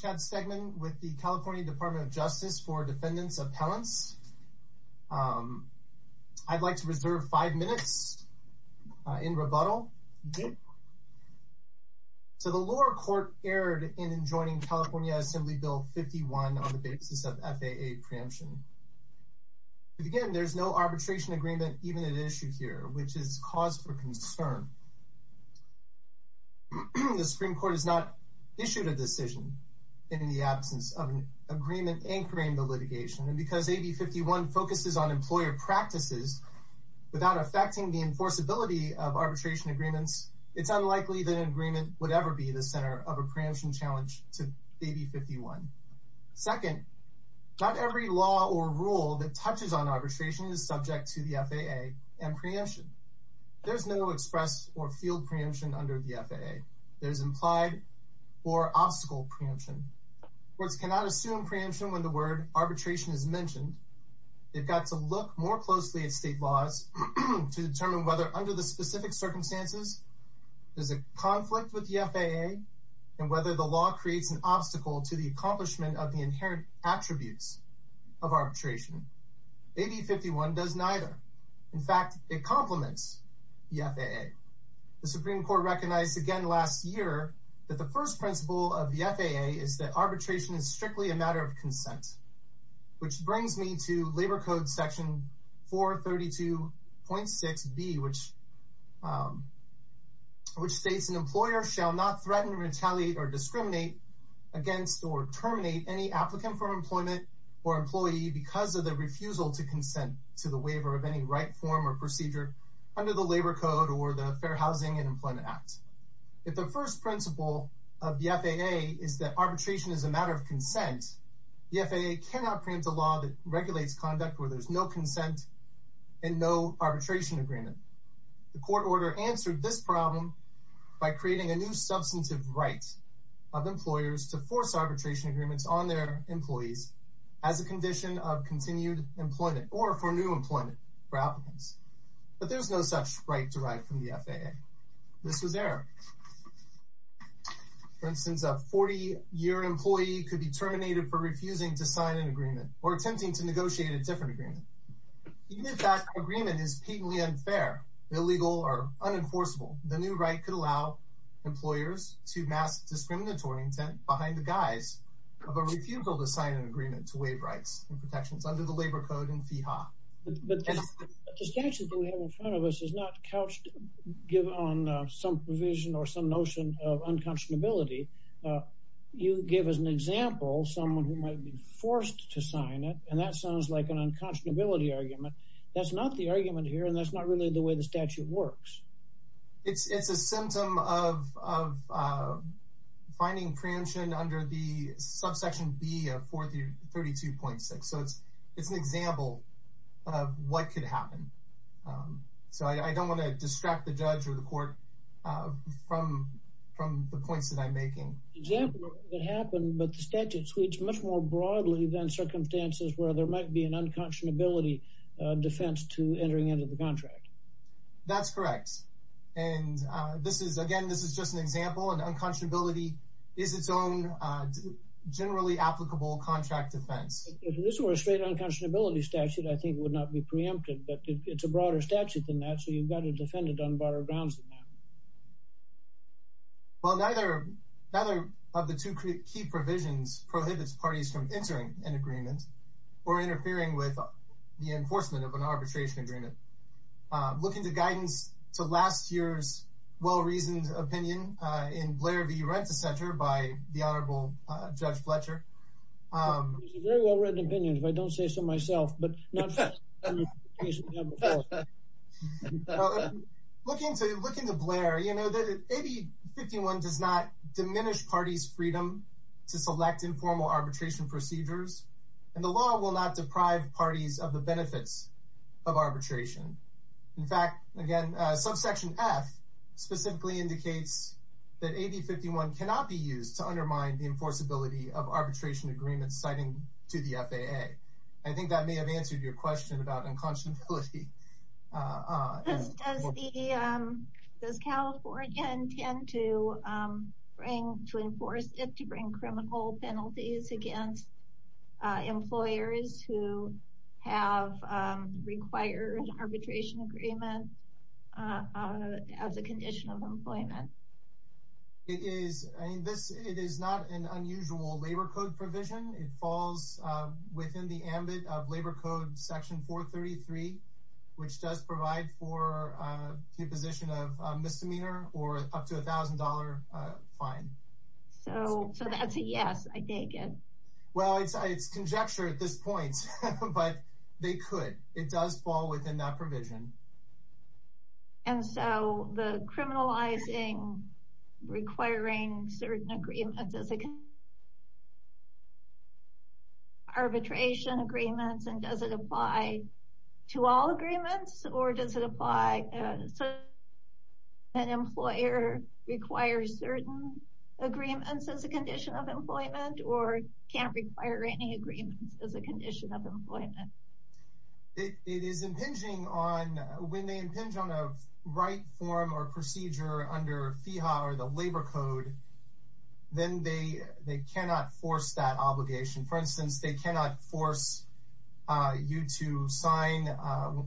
Chad Stegman, California Department of Justice for Defendants Appellants I'd like to reserve 5 minutes in rebuttal. The lower court erred in adjoining California Assembly Bill 51 on the basis of FAA preemption. There is no arbitration agreement even at issue here, which is cause for concern. The Supreme Court has not issued a decision in the absence of an agreement anchoring the litigation. And because AB 51 focuses on employer practices without affecting the enforceability of arbitration agreements, it's unlikely that an agreement would ever be the center of a preemption challenge to AB 51. Second, not every law or rule that touches on arbitration is subject to the FAA and preemption. There's no express or field preemption under the FAA. There's implied or obstacle preemption. Courts cannot assume preemption when the word arbitration is mentioned. They've got to look more closely at state laws to determine whether under the specific circumstances there's a conflict with the FAA and whether the law creates an obstacle to the accomplishment of the inherent attributes of arbitration. AB 51 does neither. In fact, it complements the FAA. The Supreme Court recognized again last year that the first principle of the FAA is that arbitration is strictly a matter of consent. Which brings me to Labor Code Section 432.6b, which states, An employer shall not threaten, retaliate, or discriminate against or terminate any applicant for employment or employee because of their refusal to consent to the waiver of any right form or procedure under the Labor Code or the Fair Housing and Employment Act. If the first principle of the FAA is that arbitration is a matter of consent, the FAA cannot preempt a law that regulates conduct where there's no consent and no arbitration agreement. The court order answered this problem by creating a new substantive right of employers to force arbitration agreements on their employees as a condition of continued employment or for new employment for applicants. But there's no such right derived from the FAA. This was error. For instance, a 40-year employee could be terminated for refusing to sign an agreement or attempting to negotiate a different agreement. Even if that agreement is patently unfair, illegal, or unenforceable, the new right could allow employers to mask discriminatory intent behind the guise of a refusal to sign an agreement to waive rights and protections under the Labor Code and FEHA. But the statute that we have in front of us is not couched on some provision or some notion of unconscionability. You give as an example someone who might be forced to sign it, and that sounds like an unconscionability argument. That's not the argument here, and that's not really the way the statute works. It's a symptom of finding preemption under the subsection B of 432.6, so it's an example of what could happen. So I don't want to distract the judge or the court from the points that I'm making. An example of what could happen, but the statute speaks much more broadly than circumstances where there might be an unconscionability defense to entering into the contract. That's correct, and again, this is just an example, and unconscionability is its own generally applicable contract defense. If this were a straight unconscionability statute, I think it would not be preempted, but it's a broader statute than that, so you've got to defend it on broader grounds than that. Well, neither of the two key provisions prohibits parties from entering an agreement or interfering with the enforcement of an arbitration agreement. Looking to guidance to last year's well-reasoned opinion in Blair v. Renta Center by the Honorable Judge Fletcher. It's a very well-written opinion, if I don't say so myself, but not in the case of the Honorable Fletcher. Looking to Blair, you know that AB 51 does not diminish parties' freedom to select informal arbitration procedures, and the law will not deprive parties of the benefits of arbitration. In fact, again, subsection F specifically indicates that AB 51 cannot be used to undermine the enforceability of arbitration agreements citing to the FAA. I think that may have answered your question about unconscionability. Does California intend to enforce it to bring criminal penalties against employers who have required arbitration agreements as a condition of employment? It is not an unusual labor code provision. It falls within the ambit of Labor Code Section 433, which does provide for the imposition of a misdemeanor or up to $1,000 fine. So that's a yes, I take it. Well, it's conjecture at this point, but they could. It does fall within that provision. And so the criminalizing requiring certain agreements as arbitration agreements, and does it apply to all agreements? Or does it apply to an employer that requires certain agreements as a condition of employment or can't require any agreements as a condition of employment? It is impinging on when they impinge on a right form or procedure under FIHA or the Labor Code, then they cannot force that obligation. For instance, they cannot force you to sign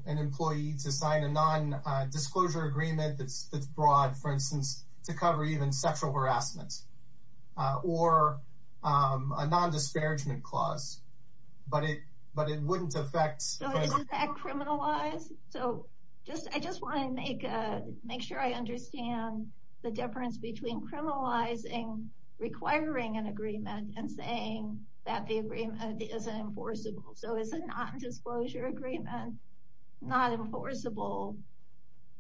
an employee to sign a non-disclosure agreement that's broad, for instance, to cover even sexual harassment or a non-disparagement clause. But it wouldn't affect... So is that criminalized? So I just want to make sure I understand the difference between criminalizing requiring an agreement and saying that the agreement is enforceable. So is a non-disclosure agreement not enforceable,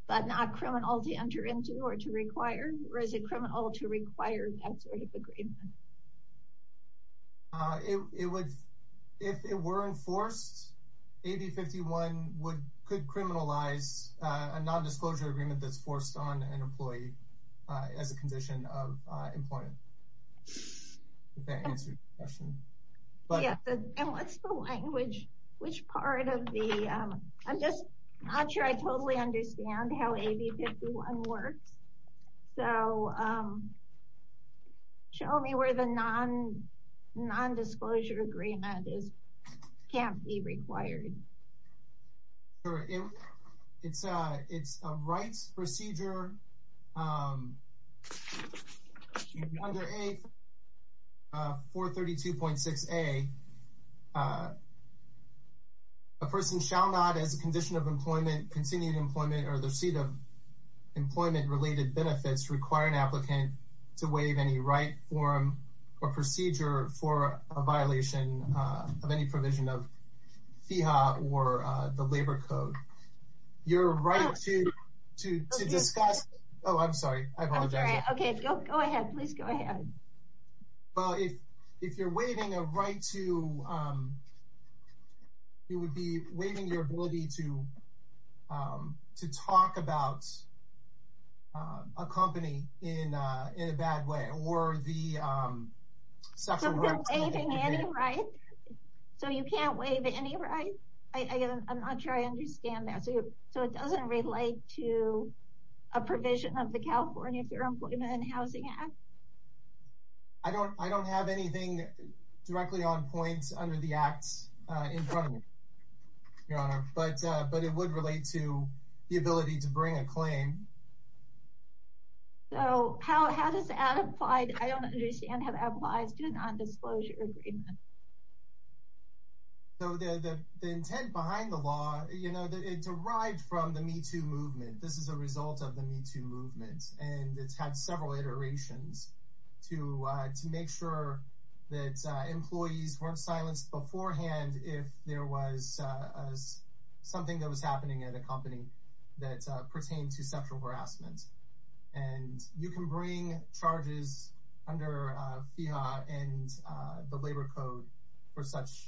but not criminal to enter into or to require? Or is it criminal to require that sort of agreement? If it were enforced, AB 51 could criminalize a non-disclosure agreement that's forced on an employee as a condition of employment. If that answers your question. And what's the language? Which part of the... I'm just not sure I totally understand how AB 51 works. So show me where the non-disclosure agreement can't be required. It's a rights procedure under 432.6a. A person shall not, as a condition of employment, continued employment, or the receipt of employment-related benefits, require an applicant to waive any right, form, or procedure for a violation of any provision of FEHA or the Labor Code. You're right to discuss... Oh, I'm sorry. I apologize. Okay, go ahead. Please go ahead. Well, if you're waiving a right to... It would be waiving your ability to talk about a company in a bad way, or the sexual harassment... So if you're waiving any right, so you can't waive any right? I'm not sure I understand that. So it doesn't relate to a provision of the California Fair Employment and Housing Act? I don't have anything directly on point under the Act in front of me, Your Honor. But it would relate to the ability to bring a claim. So how does that apply? I don't understand how that applies to a non-disclosure agreement. So the intent behind the law, you know, it derived from the Me Too movement. This is a result of the Me Too movement. And it's had several iterations to make sure that employees weren't silenced beforehand if there was something that was happening at a company that pertained to sexual harassment. And you can bring charges under FEHA and the Labor Code for such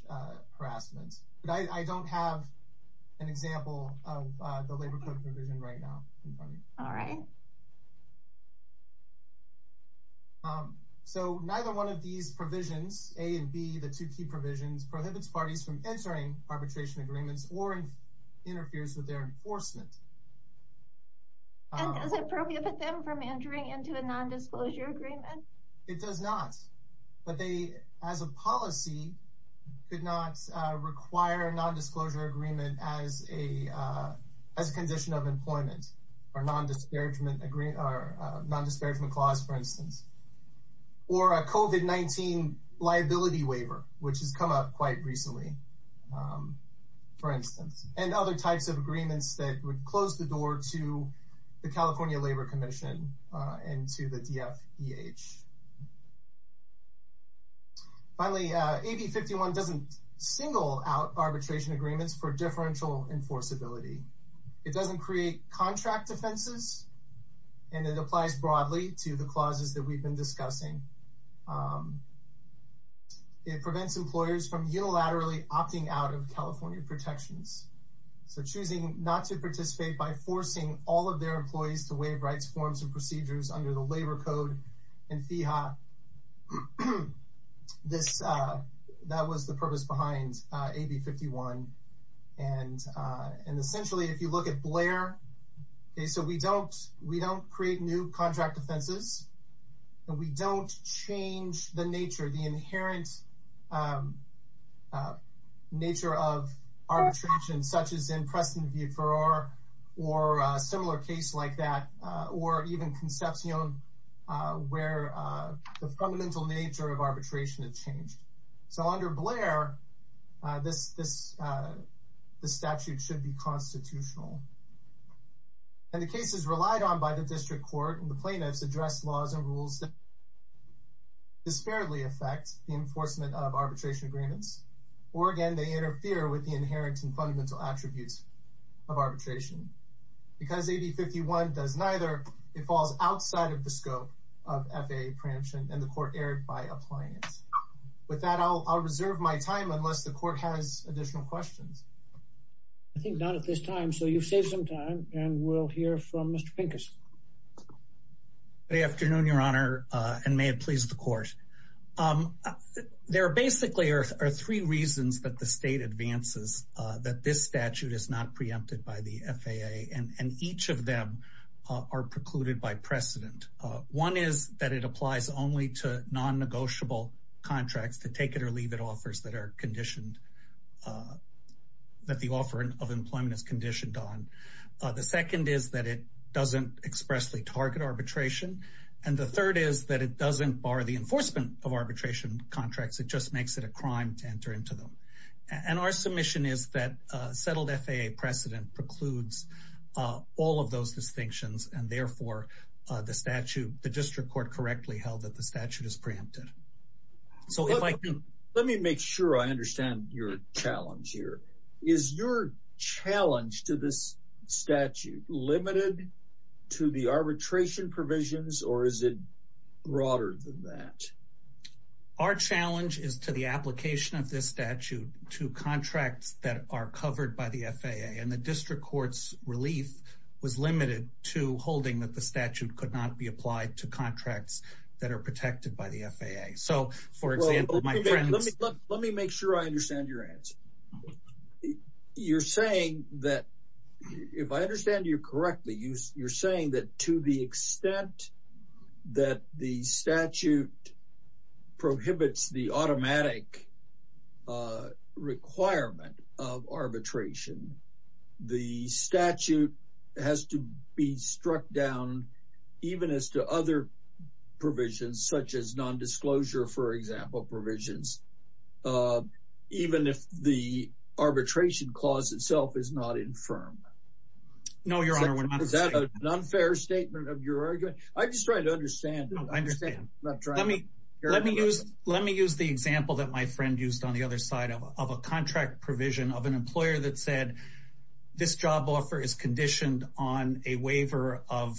harassment. But I don't have an example of the Labor Code provision right now in front of me. All right. So neither one of these provisions, A and B, the two key provisions, prohibits parties from entering arbitration agreements or interferes with their enforcement. And does it prohibit them from entering into a non-disclosure agreement? It does not. But they, as a policy, could not require a non-disclosure agreement as a condition of employment or non-disparagement clause, for instance. Or a COVID-19 liability waiver, which has come up quite recently, for instance. And other types of agreements that would close the door to the California Labor Commission and to the DFEH. Finally, AB 51 doesn't single out arbitration agreements for differential enforceability. It doesn't create contract offenses, and it applies broadly to the clauses that we've been discussing. It prevents employers from unilaterally opting out of California protections. So choosing not to participate by forcing all of their employees to waive rights, forms, and procedures under the Labor Code and FEHA. That was the purpose behind AB 51. And essentially, if you look at BLAIR, so we don't create new contract offenses. And we don't change the nature, the inherent nature of arbitration, such as in Preston v. Farrar, or a similar case like that. Or even Concepcion, where the fundamental nature of arbitration has changed. So under BLAIR, this statute should be constitutional. And the cases relied on by the district court and the plaintiffs address laws and rules that disparately affect the enforcement of arbitration agreements. Or again, they interfere with the inherent and fundamental attributes of arbitration. Because AB 51 does neither, it falls outside of the scope of FEHA preemption, and the court erred by applying it. With that, I'll reserve my time unless the court has additional questions. I think not at this time, so you've saved some time, and we'll hear from Mr. Pincus. Good afternoon, Your Honor, and may it please the court. There basically are three reasons that the state advances that this statute is not preempted by the FAA. And each of them are precluded by precedent. One is that it applies only to non-negotiable contracts, the take-it-or-leave-it offers that the offer of employment is conditioned on. The second is that it doesn't expressly target arbitration. And the third is that it doesn't bar the enforcement of arbitration contracts. It just makes it a crime to enter into them. And our submission is that settled FAA precedent precludes all of those distinctions, and therefore the statute, the district court, correctly held that the statute is preempted. Let me make sure I understand your challenge here. Is your challenge to this statute limited to the arbitration provisions, or is it broader than that? Our challenge is to the application of this statute to contracts that are covered by the FAA, and the district court's relief was limited to holding that the statute could not be applied to contracts that are protected by the FAA. So, for example, my friends— Let me make sure I understand your answer. You're saying that—if I understand you correctly, you're saying that to the extent that the statute prohibits the automatic requirement of arbitration, the statute has to be struck down even as to other provisions, such as nondisclosure, for example, provisions, even if the arbitration clause itself is not infirmed. No, Your Honor, we're not— Is that an unfair statement of your argument? I'm just trying to understand. I understand. Let me use the example that my friend used on the other side of a contract provision of an employer that said, this job offer is conditioned on a waiver of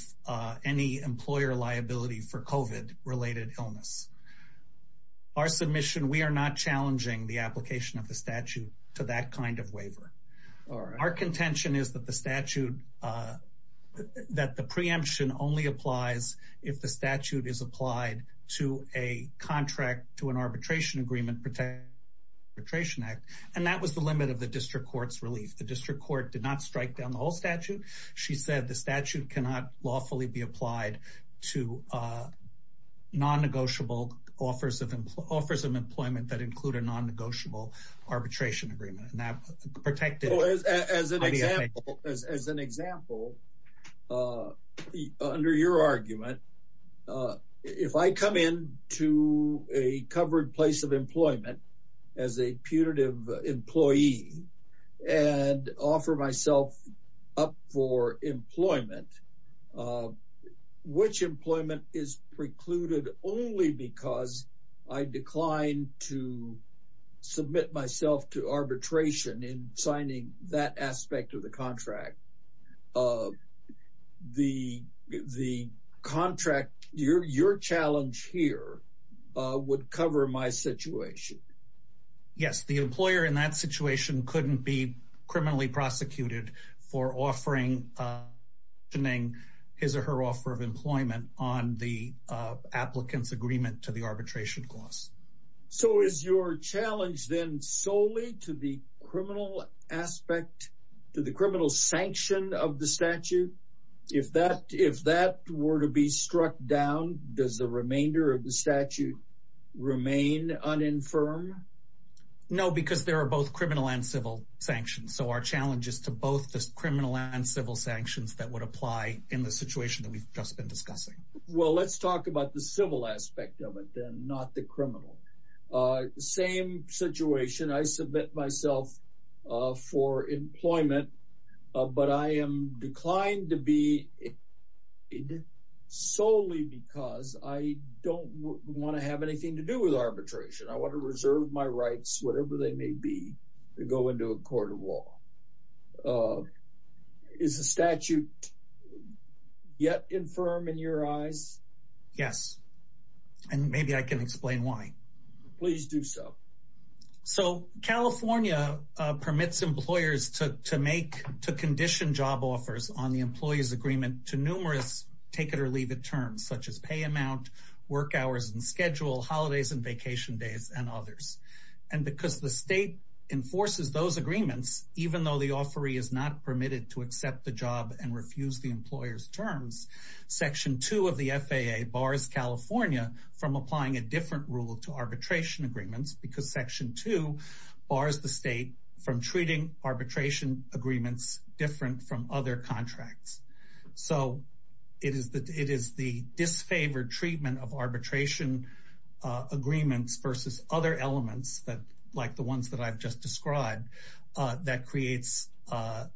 any employer liability for COVID-related illness. Our submission—we are not challenging the application of the statute to that kind of waiver. All right. Our contention is that the statute—that the preemption only applies if the statute is applied to a contract to an Arbitration Agreement Protection Act, and that was the limit of the district court's relief. The district court did not strike down the whole statute. She said the statute cannot lawfully be applied to non-negotiable offers of employment that include a non-negotiable arbitration agreement. As an example, under your argument, if I come into a covered place of employment as a punitive employee and offer myself up for employment, which employment is precluded only because I decline to submit myself to arbitration in signing that aspect of the contract? The contract—your challenge here would cover my situation. Yes, the employer in that situation couldn't be criminally prosecuted for offering his or her offer of employment on the applicant's agreement to the arbitration clause. So is your challenge then solely to the criminal aspect—to the criminal sanction of the statute? If that were to be struck down, does the remainder of the statute remain uninfirmed? No, because there are both criminal and civil sanctions. So our challenge is to both the criminal and civil sanctions that would apply in the situation that we've just been discussing. Well, let's talk about the civil aspect of it, then, not the criminal. Same situation. I submit myself for employment, but I am declined to be in solely because I don't want to have anything to do with arbitration. I want to reserve my rights, whatever they may be, to go into a court of law. Is the statute yet infirm in your eyes? Yes, and maybe I can explain why. Please do so. So California permits employers to condition job offers on the employee's agreement to numerous take-it-or-leave-it terms, such as pay amount, work hours and schedule, holidays and vacation days, and others. And because the state enforces those agreements, even though the offeree is not permitted to accept the job and refuse the employer's terms, Section 2 of the FAA bars California from applying a different rule to arbitration agreements, because Section 2 bars the state from treating arbitration agreements different from other contracts. So it is the disfavored treatment of arbitration agreements versus other elements, like the ones that I've just described, that triggers FAA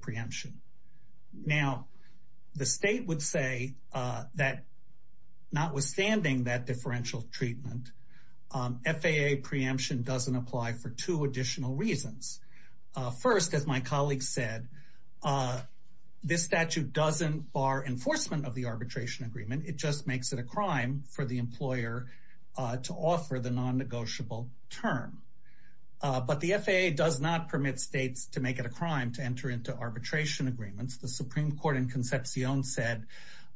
preemption. Now, the state would say that notwithstanding that differential treatment, FAA preemption doesn't apply for two additional reasons. First, as my colleague said, this statute doesn't bar enforcement of the arbitration agreement. It just makes it a crime for the employer to offer the non-negotiable term. But the FAA does not permit states to make it a crime to enter into arbitration agreements. The Supreme Court in Concepcion said,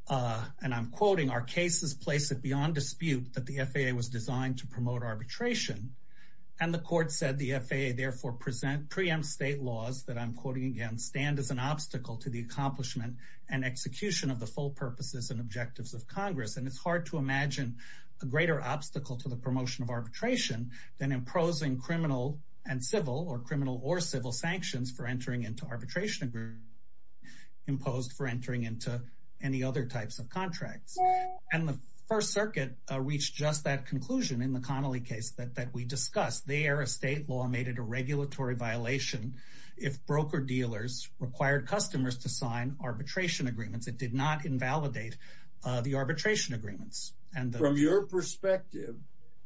and I'm quoting, our cases place it beyond dispute that the FAA was designed to promote arbitration. And the court said the FAA therefore preempts state laws that, I'm quoting again, stand as an obstacle to the accomplishment and execution of the full purposes and objectives of Congress. And it's hard to imagine a greater obstacle to the promotion of arbitration than imposing criminal and civil or criminal or civil sanctions for entering into arbitration agreements imposed for entering into any other types of contracts. And the First Circuit reached just that conclusion in the Connolly case that we discussed. There, a state law made it a regulatory violation if broker-dealers required customers to sign arbitration agreements. It did not invalidate the arbitration agreements. From your perspective,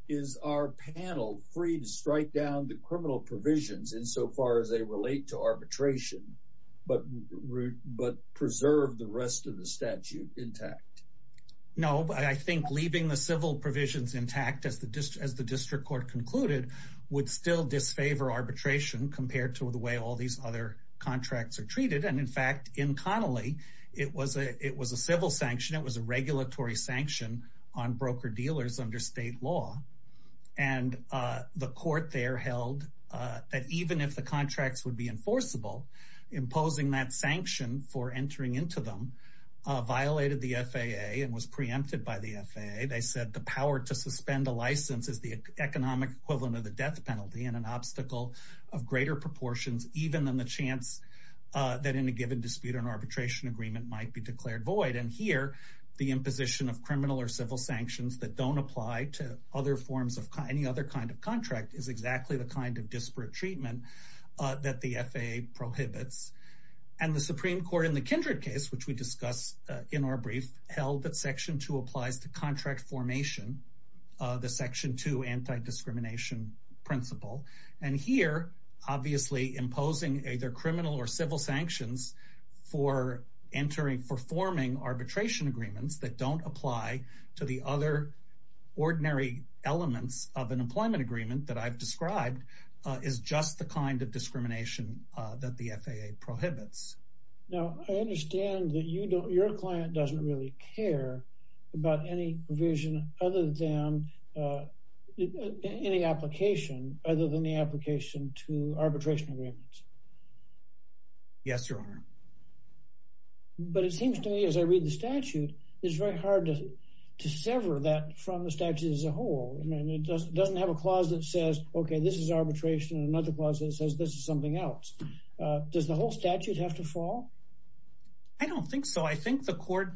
is our panel free to strike down the criminal provisions insofar as they relate to arbitration, but preserve the rest of the statute intact? No, but I think leaving the civil provisions intact, as the district court concluded, would still disfavor arbitration compared to the way all these other contracts are treated. And in fact, in Connolly, it was a civil sanction. It was a regulatory sanction on broker-dealers under state law. And the court there held that even if the contracts would be enforceable, imposing that sanction for entering into them violated the FAA and was preempted by the FAA. They said the power to suspend a license is the economic equivalent of the death penalty and an obstacle of greater proportions, even than the chance that in a given dispute an arbitration agreement might be declared void. And here, the imposition of criminal or civil sanctions that don't apply to other forms of any other kind of contract is exactly the kind of disparate treatment that the FAA prohibits. And the Supreme Court in the Kindred case, which we discussed in our brief, held that Section 2 applies to contract formation, the Section 2 anti-discrimination principle. And here, obviously, imposing either criminal or civil sanctions for forming arbitration agreements that don't apply to the other ordinary elements of an employment agreement that I've described is just the kind of discrimination that the FAA prohibits. Now, I understand that your client doesn't really care about any provision other than any application, other than the application to arbitration agreements. Yes, Your Honor. But it seems to me as I read the statute, it's very hard to sever that from the statute as a whole. I mean, it doesn't have a clause that says, okay, this is arbitration and another clause that says this is something else. Does the whole statute have to fall? I don't think so. I think the court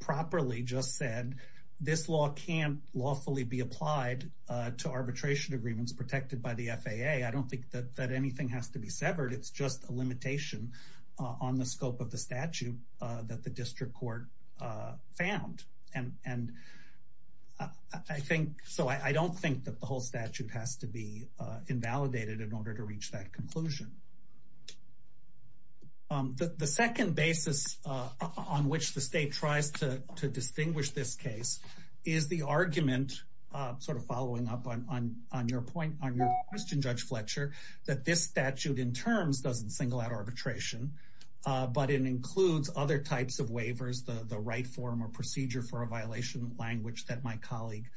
properly just said this law can't lawfully be applied to arbitration agreements protected by the FAA. I don't think that anything has to be severed. It's just a limitation on the scope of the statute that the district court found. So I don't think that the whole statute has to be invalidated in order to reach that conclusion. The second basis on which the state tries to distinguish this case is the argument, sort of following up on your point, on your question, Judge Fletcher, that this statute in terms doesn't single out arbitration. But it includes other types of waivers, the right form or procedure for a violation language that my colleague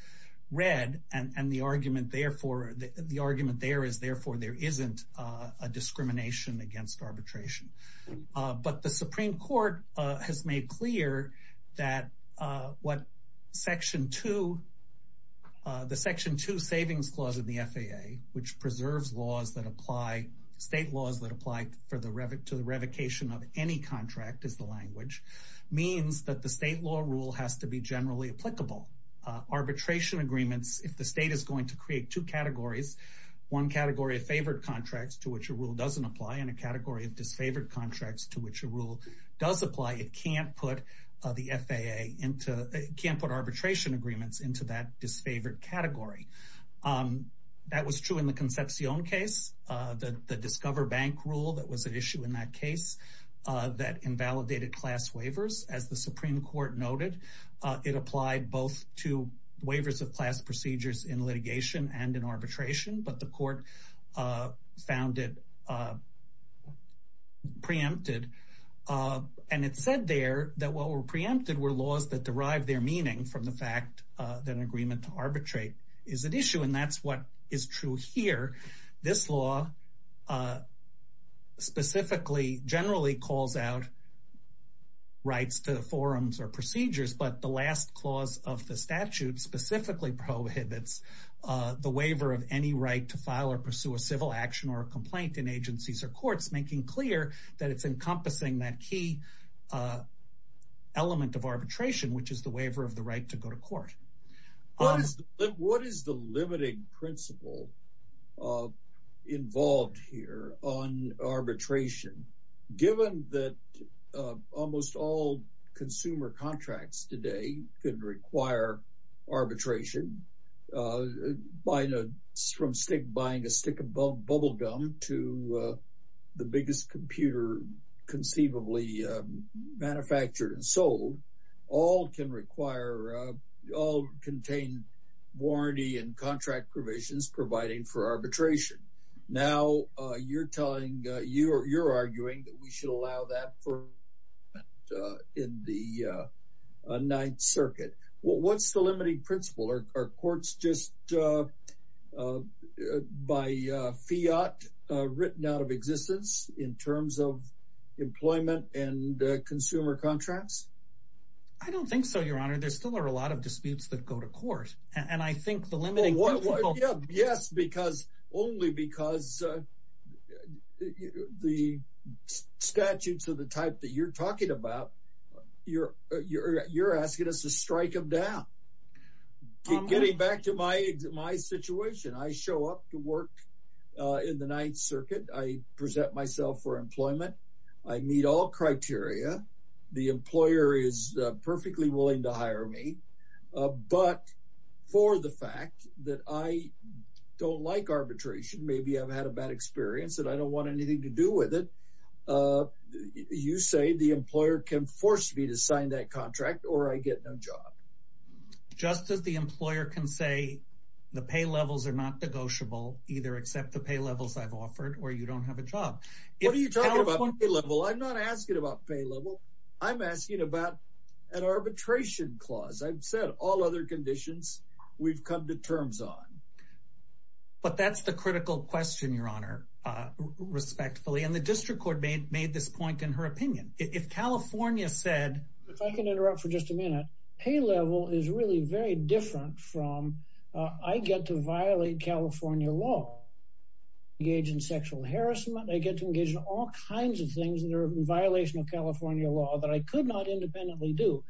read. And the argument there is therefore there isn't a discrimination against arbitration. But the Supreme Court has made clear that what Section 2, the Section 2 Savings Clause of the FAA, which preserves laws that apply, state laws that apply to the revocation of any contract is the language, means that the state law rule has to be generally applicable. Arbitration agreements, if the state is going to create two categories, one category of favored contracts to which a rule doesn't apply and a category of disfavored contracts to which a rule does apply, it can't put arbitration agreements into that disfavored category. That was true in the Concepcion case, the Discover Bank rule that was at issue in that case that invalidated class waivers. As the Supreme Court noted, it applied both to waivers of class procedures in litigation and in arbitration, but the court found it preempted. And it said there that what were preempted were laws that derived their meaning from the fact that an agreement to arbitrate is at issue. And that's what is true here. This law specifically generally calls out rights to forums or procedures, but the last clause of the statute specifically prohibits the waiver of any right to file or pursue a civil action or a complaint in agencies or courts, making clear that it's encompassing that key element of arbitration, which is the waiver of the right to go to court. What is the limiting principle involved here on arbitration, given that almost all consumer contracts today could require arbitration from buying a stick of bubblegum to the biggest computer conceivably manufactured and sold? All can require, all contain warranty and contract provisions providing for arbitration. Now, you're telling, you're arguing that we should allow that in the Ninth Circuit. What's the limiting principle? Are courts just by fiat written out of existence in terms of employment and consumer contracts? I don't think so, Your Honor. There still are a lot of disputes that go to court. And I think the limiting. Yes, because only because the statutes of the type that you're talking about, you're you're you're asking us to strike him down. Getting back to my my situation, I show up to work in the Ninth Circuit. I present myself for employment. I meet all criteria. The employer is perfectly willing to hire me. But for the fact that I don't like arbitration, maybe I've had a bad experience and I don't want anything to do with it. You say the employer can force me to sign that contract or I get no job. Just as the employer can say the pay levels are not negotiable, either except the pay levels I've offered or you don't have a job. What are you talking about pay level? I'm not asking about pay level. I'm asking about an arbitration clause. I've said all other conditions we've come to terms on. But that's the critical question, Your Honor, respectfully. And the district court made made this point in her opinion. If California said. If I can interrupt for just a minute, pay level is really very different from I get to violate California law, engage in sexual harassment. I get to engage in all kinds of things that are a violation of California law that I could not independently do.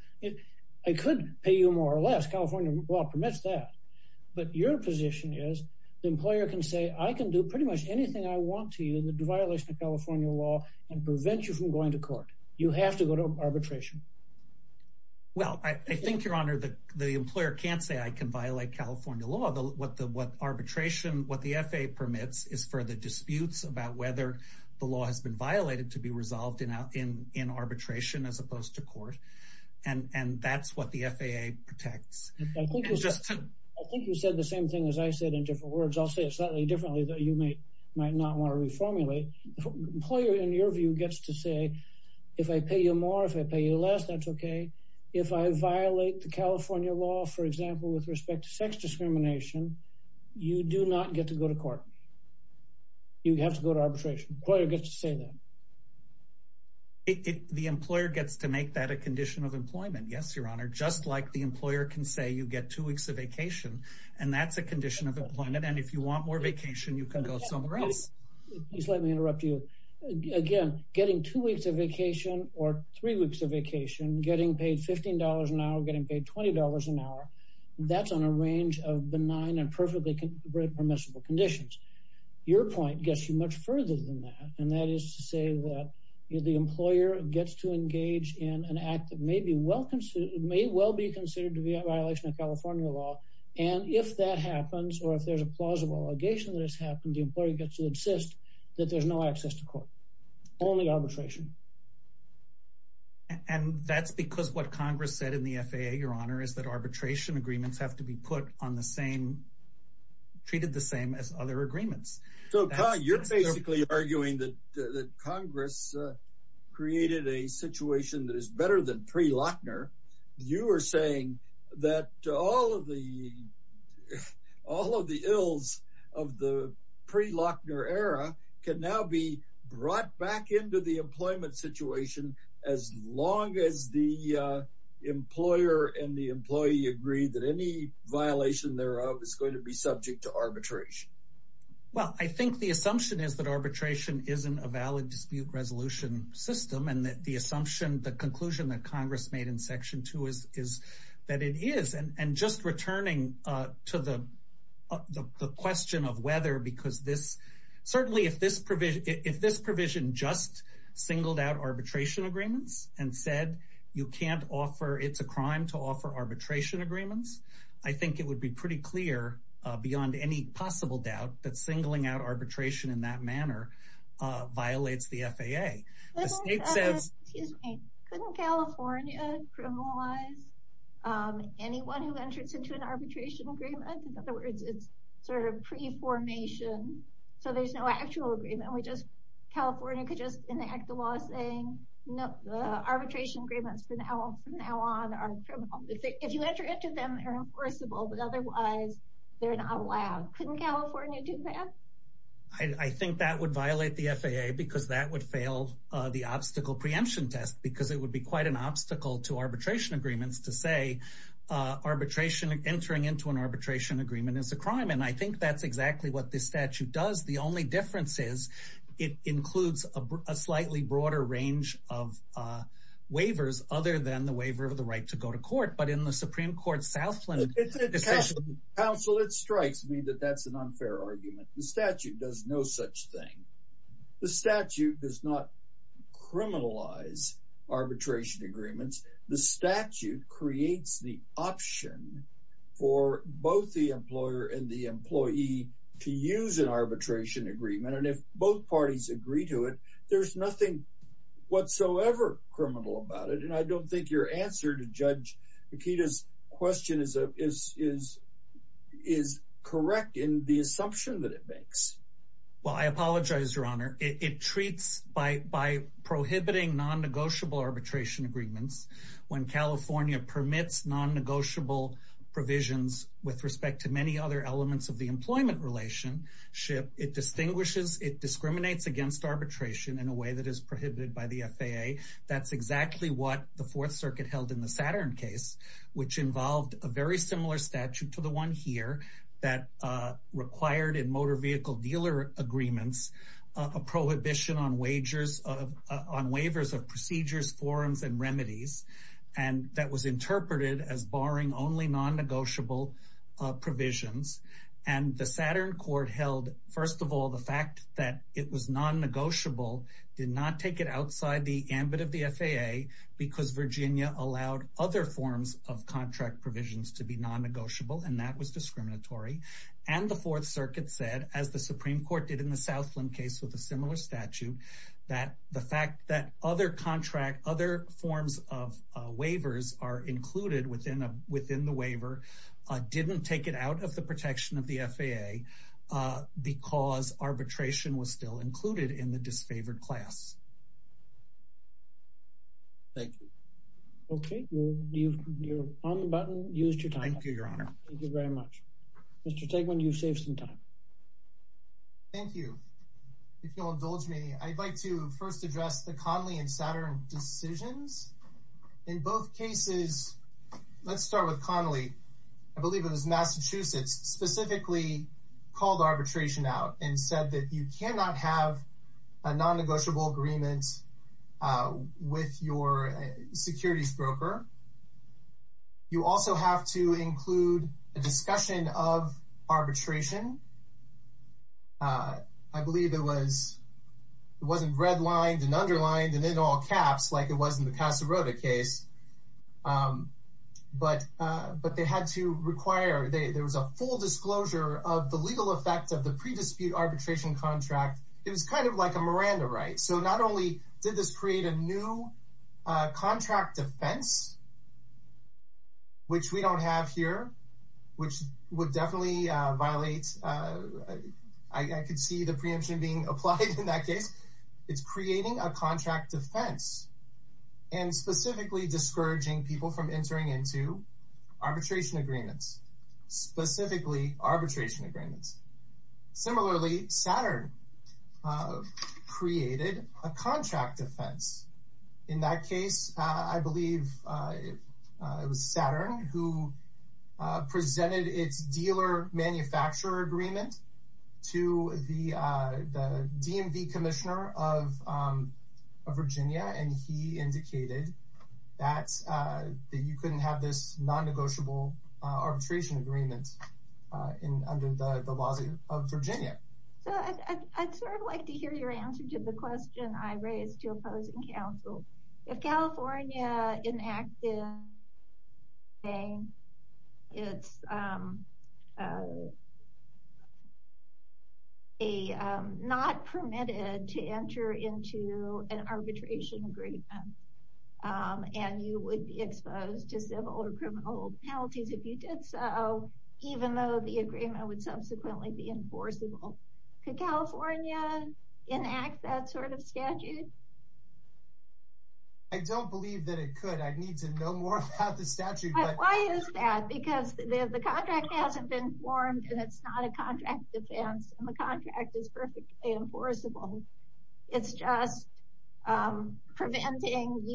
I could pay you more or less. California law permits that. But your position is the employer can say I can do pretty much anything I want to you. The violation of California law and prevent you from going to court. You have to go to arbitration. Well, I think, Your Honor, that the employer can't say I can violate California law. What the what arbitration what the FAA permits is for the disputes about whether the law has been violated to be resolved in out in in arbitration as opposed to court. And that's what the FAA protects. I think you said the same thing as I said in different words. I'll say it slightly differently that you may might not want to reformulate. Employer, in your view, gets to say, if I pay you more, if I pay you less, that's OK. If I violate the California law, for example, with respect to sex discrimination, you do not get to go to court. You have to go to arbitration. Employer gets to say that. The employer gets to make that a condition of employment. Yes, Your Honor. Just like the employer can say you get two weeks of vacation and that's a condition of employment. And if you want more vacation, you can go somewhere else. Please let me interrupt you again, getting two weeks of vacation or three weeks of vacation, getting paid fifteen dollars an hour, getting paid twenty dollars an hour. That's on a range of benign and perfectly permissible conditions. Your point gets you much further than that. And that is to say that the employer gets to engage in an act that may be well considered may well be considered to be a violation of California law. And if that happens or if there's a plausible allegation that has happened, the employer gets to insist that there's no access to court only arbitration. And that's because what Congress said in the FAA, Your Honor, is that arbitration agreements have to be put on the same, treated the same as other agreements. So you're basically arguing that Congress created a situation that is better than pre-Lochner. You are saying that all of the all of the ills of the pre-Lochner era can now be brought back into the employment situation as long as the employer and the employee agree that any violation thereof is going to be subject to arbitration. Well, I think the assumption is that arbitration isn't a valid dispute resolution system. And the assumption, the conclusion that Congress made in Section two is is that it is. And just returning to the question of whether because this certainly if this if this provision just singled out arbitration agreements and said you can't offer it's a crime to offer arbitration agreements. I think it would be pretty clear beyond any possible doubt that singling out arbitration in that manner violates the FAA. Excuse me. Couldn't California criminalize anyone who enters into an arbitration agreement? In other words, it's sort of pre-formation. So there's no actual agreement. We just California could just enact the law saying no arbitration agreements from now on are criminal. If you enter into them, they're enforceable, but otherwise they're not allowed. Couldn't California do that? I think that would violate the FAA because that would fail the obstacle preemption test because it would be quite an obstacle to arbitration agreements to say arbitration entering into an arbitration agreement is a crime. And I think that's exactly what this statute does. The only difference is it includes a slightly broader range of waivers other than the waiver of the right to go to court. But in the Supreme Court Southland. Counsel, it strikes me that that's an unfair argument. The statute does no such thing. The statute does not criminalize arbitration agreements. The statute creates the option for both the employer and the employee to use an arbitration agreement. And if both parties agree to it, there's nothing whatsoever criminal about it. And I don't think your answer to Judge Akita's question is correct in the assumption that it makes. Well, I apologize, Your Honor. It treats by prohibiting non-negotiable arbitration agreements. When California permits non-negotiable provisions with respect to many other elements of the employment relationship, it distinguishes. It discriminates against arbitration in a way that is prohibited by the FAA. That's exactly what the Fourth Circuit held in the Saturn case, which involved a very similar statute to the one here. That required in motor vehicle dealer agreements a prohibition on wagers of on waivers of procedures, forums and remedies. And that was interpreted as barring only non-negotiable provisions. And the Saturn court held, first of all, the fact that it was non-negotiable did not take it outside the ambit of the FAA because Virginia allowed other forms of contract provisions to be non-negotiable. And that was discriminatory. And the Fourth Circuit said, as the Supreme Court did in the Southland case with a similar statute, that the fact that other contract, other forms of waivers are included within the waiver, didn't take it out of the protection of the FAA because arbitration was still included in the disfavored class. Thank you. Okay. You're on the button. Thank you, Your Honor. Thank you very much. Mr. Tegman, you've saved some time. Thank you. If you'll indulge me, I'd like to first address the Connolly and Saturn decisions. In both cases, let's start with Connolly. I believe it was Massachusetts specifically called arbitration out and said that you cannot have a non-negotiable agreement with your securities broker. You also have to include a discussion of arbitration. I believe it was, it wasn't redlined and underlined and in all caps like it was in the Casa Rota case. But they had to require, there was a full disclosure of the legal effect of the pre-dispute arbitration contract. It was kind of like a Miranda right. So not only did this create a new contract defense, which we don't have here, which would definitely violate, I could see the preemption being applied in that case. It's creating a contract defense and specifically discouraging people from entering into arbitration agreements, specifically arbitration agreements. Similarly, Saturn created a contract defense. In that case, I believe it was Saturn who presented its dealer manufacturer agreement to the DMV commissioner of Virginia. And he indicated that you couldn't have this non-negotiable arbitration agreement under the laws of Virginia. So I'd sort of like to hear your answer to the question I raised to opposing counsel. If California enacted a non-permitted to enter into an arbitration agreement, and you would be exposed to civil or criminal penalties if you did so, even though the agreement would subsequently be enforceable, could California enact that sort of statute? I don't believe that it could. I need to know more about the statute. Why is that? Because the contract hasn't been formed and it's not a contract defense and the contract is perfectly enforceable. It's just preventing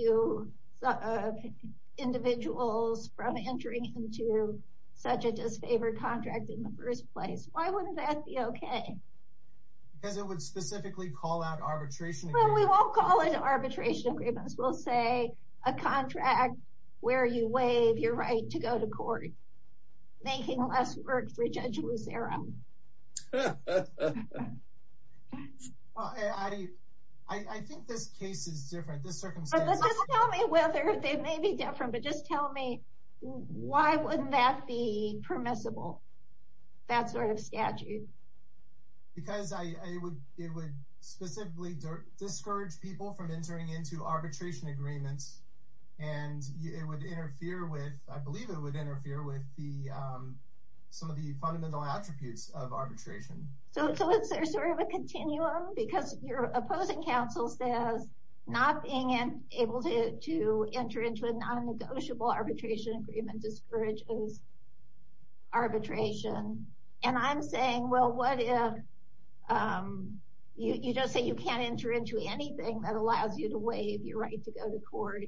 individuals from entering into such a disfavored contract in the first place. Why wouldn't that be okay? Because it would specifically call out arbitration agreements. Well, we won't call it arbitration agreements. We'll say a contract where you waive your right to go to court, making less work for Judge Lucero. I think this case is different. Just tell me why wouldn't that be permissible, that sort of statute? Because it would specifically discourage people from entering into arbitration agreements, and I believe it would interfere with some of the fundamental attributes of arbitration. So is there sort of a continuum? Because your opposing counsel says not being able to enter into a non-negotiable arbitration agreement discourages arbitration. And I'm saying, well, what if you just say you can't enter into anything that allows you to waive your right to go to court?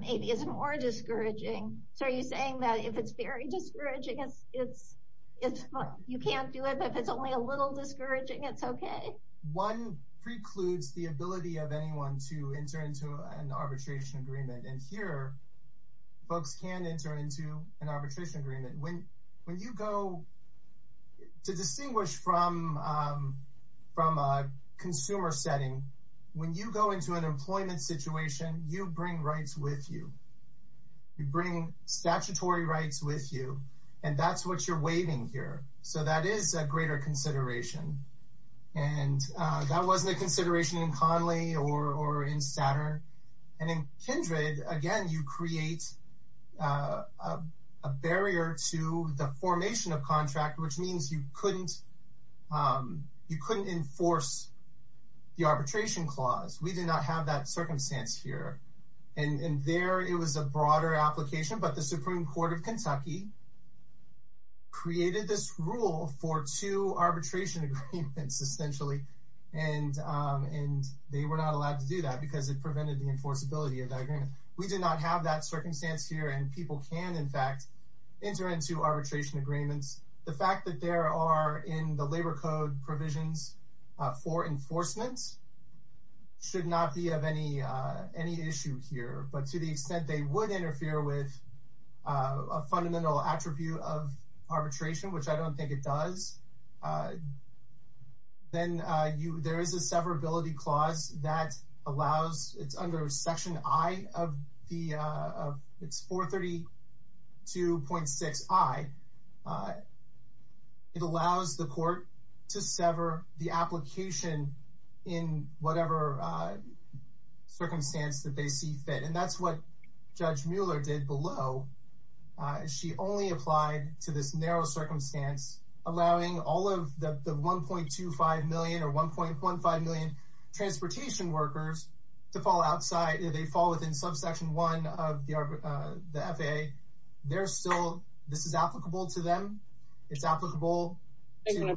Maybe it's more discouraging. So are you saying that if it's very discouraging, you can't do it, but if it's only a little discouraging, it's okay? One precludes the ability of anyone to enter into an arbitration agreement, and here, folks can enter into an arbitration agreement. When you go, to distinguish from a consumer setting, when you go into an employment situation, you bring rights with you. You bring statutory rights with you, and that's what you're waiving here. So that is a greater consideration, and that wasn't a consideration in Conley or in Statter. And in Kindred, again, you create a barrier to the formation of contract, which means you couldn't enforce the arbitration clause. We did not have that circumstance here, and there, it was a broader application, but the Supreme Court of Kentucky created this rule for two arbitration agreements, essentially, and they were not allowed to do that because it prevented the enforceability of that agreement. We did not have that circumstance here, and people can, in fact, enter into arbitration agreements. The fact that there are, in the labor code provisions, four enforcements should not be of any issue here, but to the extent they would interfere with a fundamental attribute of arbitration, which I don't think it does, then there is a severability clause that allows, it's under Section I of the, it's 432.6I. It allows the court to sever the application in whatever circumstance that they see fit, and that's what Judge Mueller did below. She only applied to this narrow circumstance, allowing all of the 1.25 million or 1.15 million transportation workers to fall outside. They fall within Subsection I of the FAA. They're still, this is applicable to them. It's applicable to,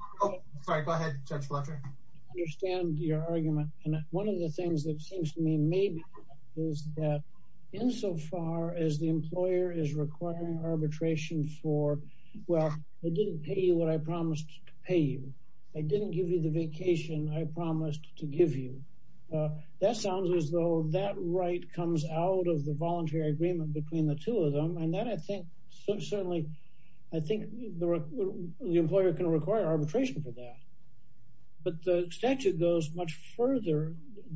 sorry, go ahead, Judge Fletcher. I understand your argument, and one of the things that seems to me maybe is that insofar as the employer is requiring arbitration for, well, I didn't pay you what I promised to pay you. I didn't give you the vacation I promised to give you. That sounds as though that right comes out of the voluntary agreement between the two of them, and that I think certainly, I think the employer can require arbitration for that, but the statute goes much further,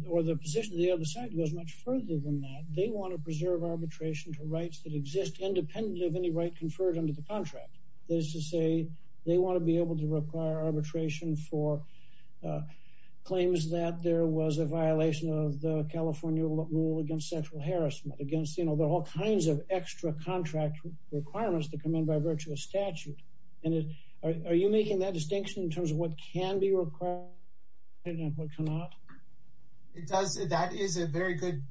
or the position of the other side goes much further than that. They want to preserve arbitration for rights that exist independently of any right conferred under the contract. That is to say, they want to be able to require arbitration for claims that there was a violation of the California rule against sexual harassment, against all kinds of extra contract requirements that come in by virtue of statute. Are you making that distinction in terms of what can be required and what cannot? It does. That is a very good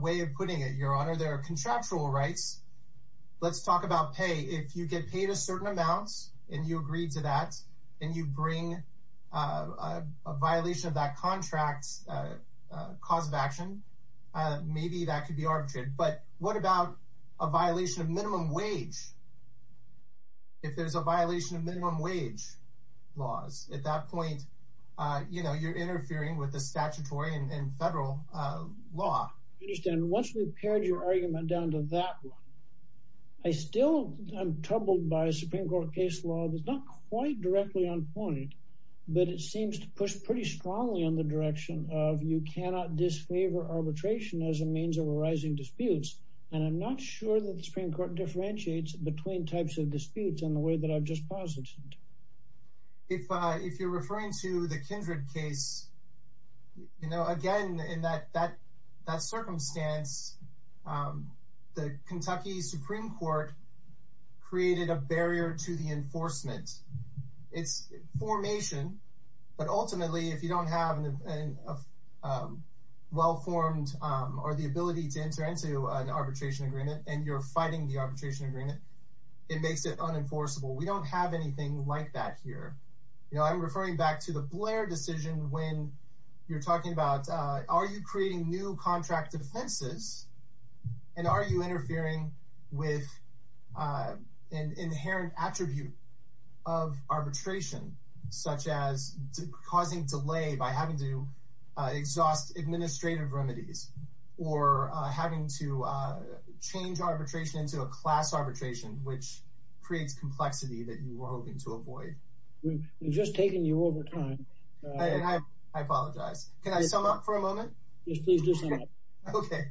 way of putting it, Your Honor. There are contractual rights. Let's talk about pay. If you get paid a certain amount, and you agree to that, and you bring a violation of that contract, that's a cause of action. Maybe that could be arbitrated, but what about a violation of minimum wage? If there's a violation of minimum wage laws, at that point, you're interfering with the statutory and federal law. I understand. Once we've pared your argument down to that one, I still am troubled by a Supreme Court case law that's not quite directly on point, but it seems to push pretty strongly in the direction of you cannot disfavor arbitration as a means of arising disputes. I'm not sure that the Supreme Court differentiates between types of disputes in the way that I've just posited. If you're referring to the Kindred case, again, in that circumstance, the Kentucky Supreme Court created a barrier to the enforcement. It's formation, but ultimately, if you don't have a well-formed or the ability to enter into an arbitration agreement, and you're fighting the arbitration agreement, it makes it unenforceable. We don't have anything like that here. I'm referring back to the Blair decision when you're talking about, are you creating new contract defenses, and are you interfering with an inherent attribute of arbitration, such as causing delay by having to exhaust administrative remedies, or having to change arbitration into a class arbitration, which creates complexity that you were hoping to avoid? We've just taken you over time. I apologize. Can I sum up for a moment? Yes, please do so. Okay.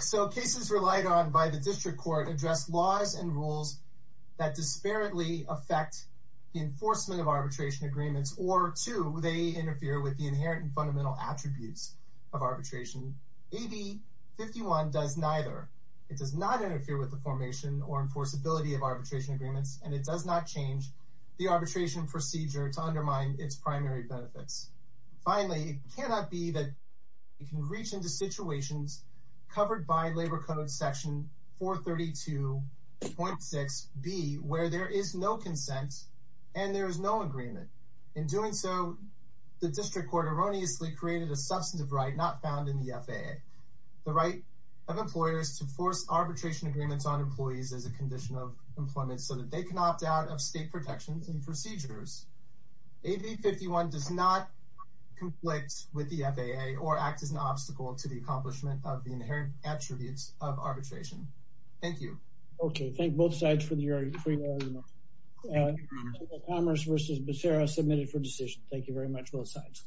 So cases relied on by the district court address laws and rules that disparately affect the enforcement of arbitration agreements, or two, they interfere with the inherent and fundamental attributes of arbitration. AB 51 does neither. It does not interfere with the formation or enforceability of arbitration agreements, and it does not change the arbitration procedure to undermine its primary benefits. Finally, it cannot be that you can reach into situations covered by Labor Code section 432.6b, where there is no consent and there is no agreement. In doing so, the district court erroneously created a substantive right not found in the FAA, the right of employers to force arbitration agreements on employees as a condition of employment, so that they can opt out of state protections and procedures. AB 51 does not conflict with the FAA or act as an obstacle to the accomplishment of the inherent attributes of arbitration. Thank you. Okay. Thank both sides for your agreement. Commerce versus Becerra submitted for decision. Thank you very much, both sides.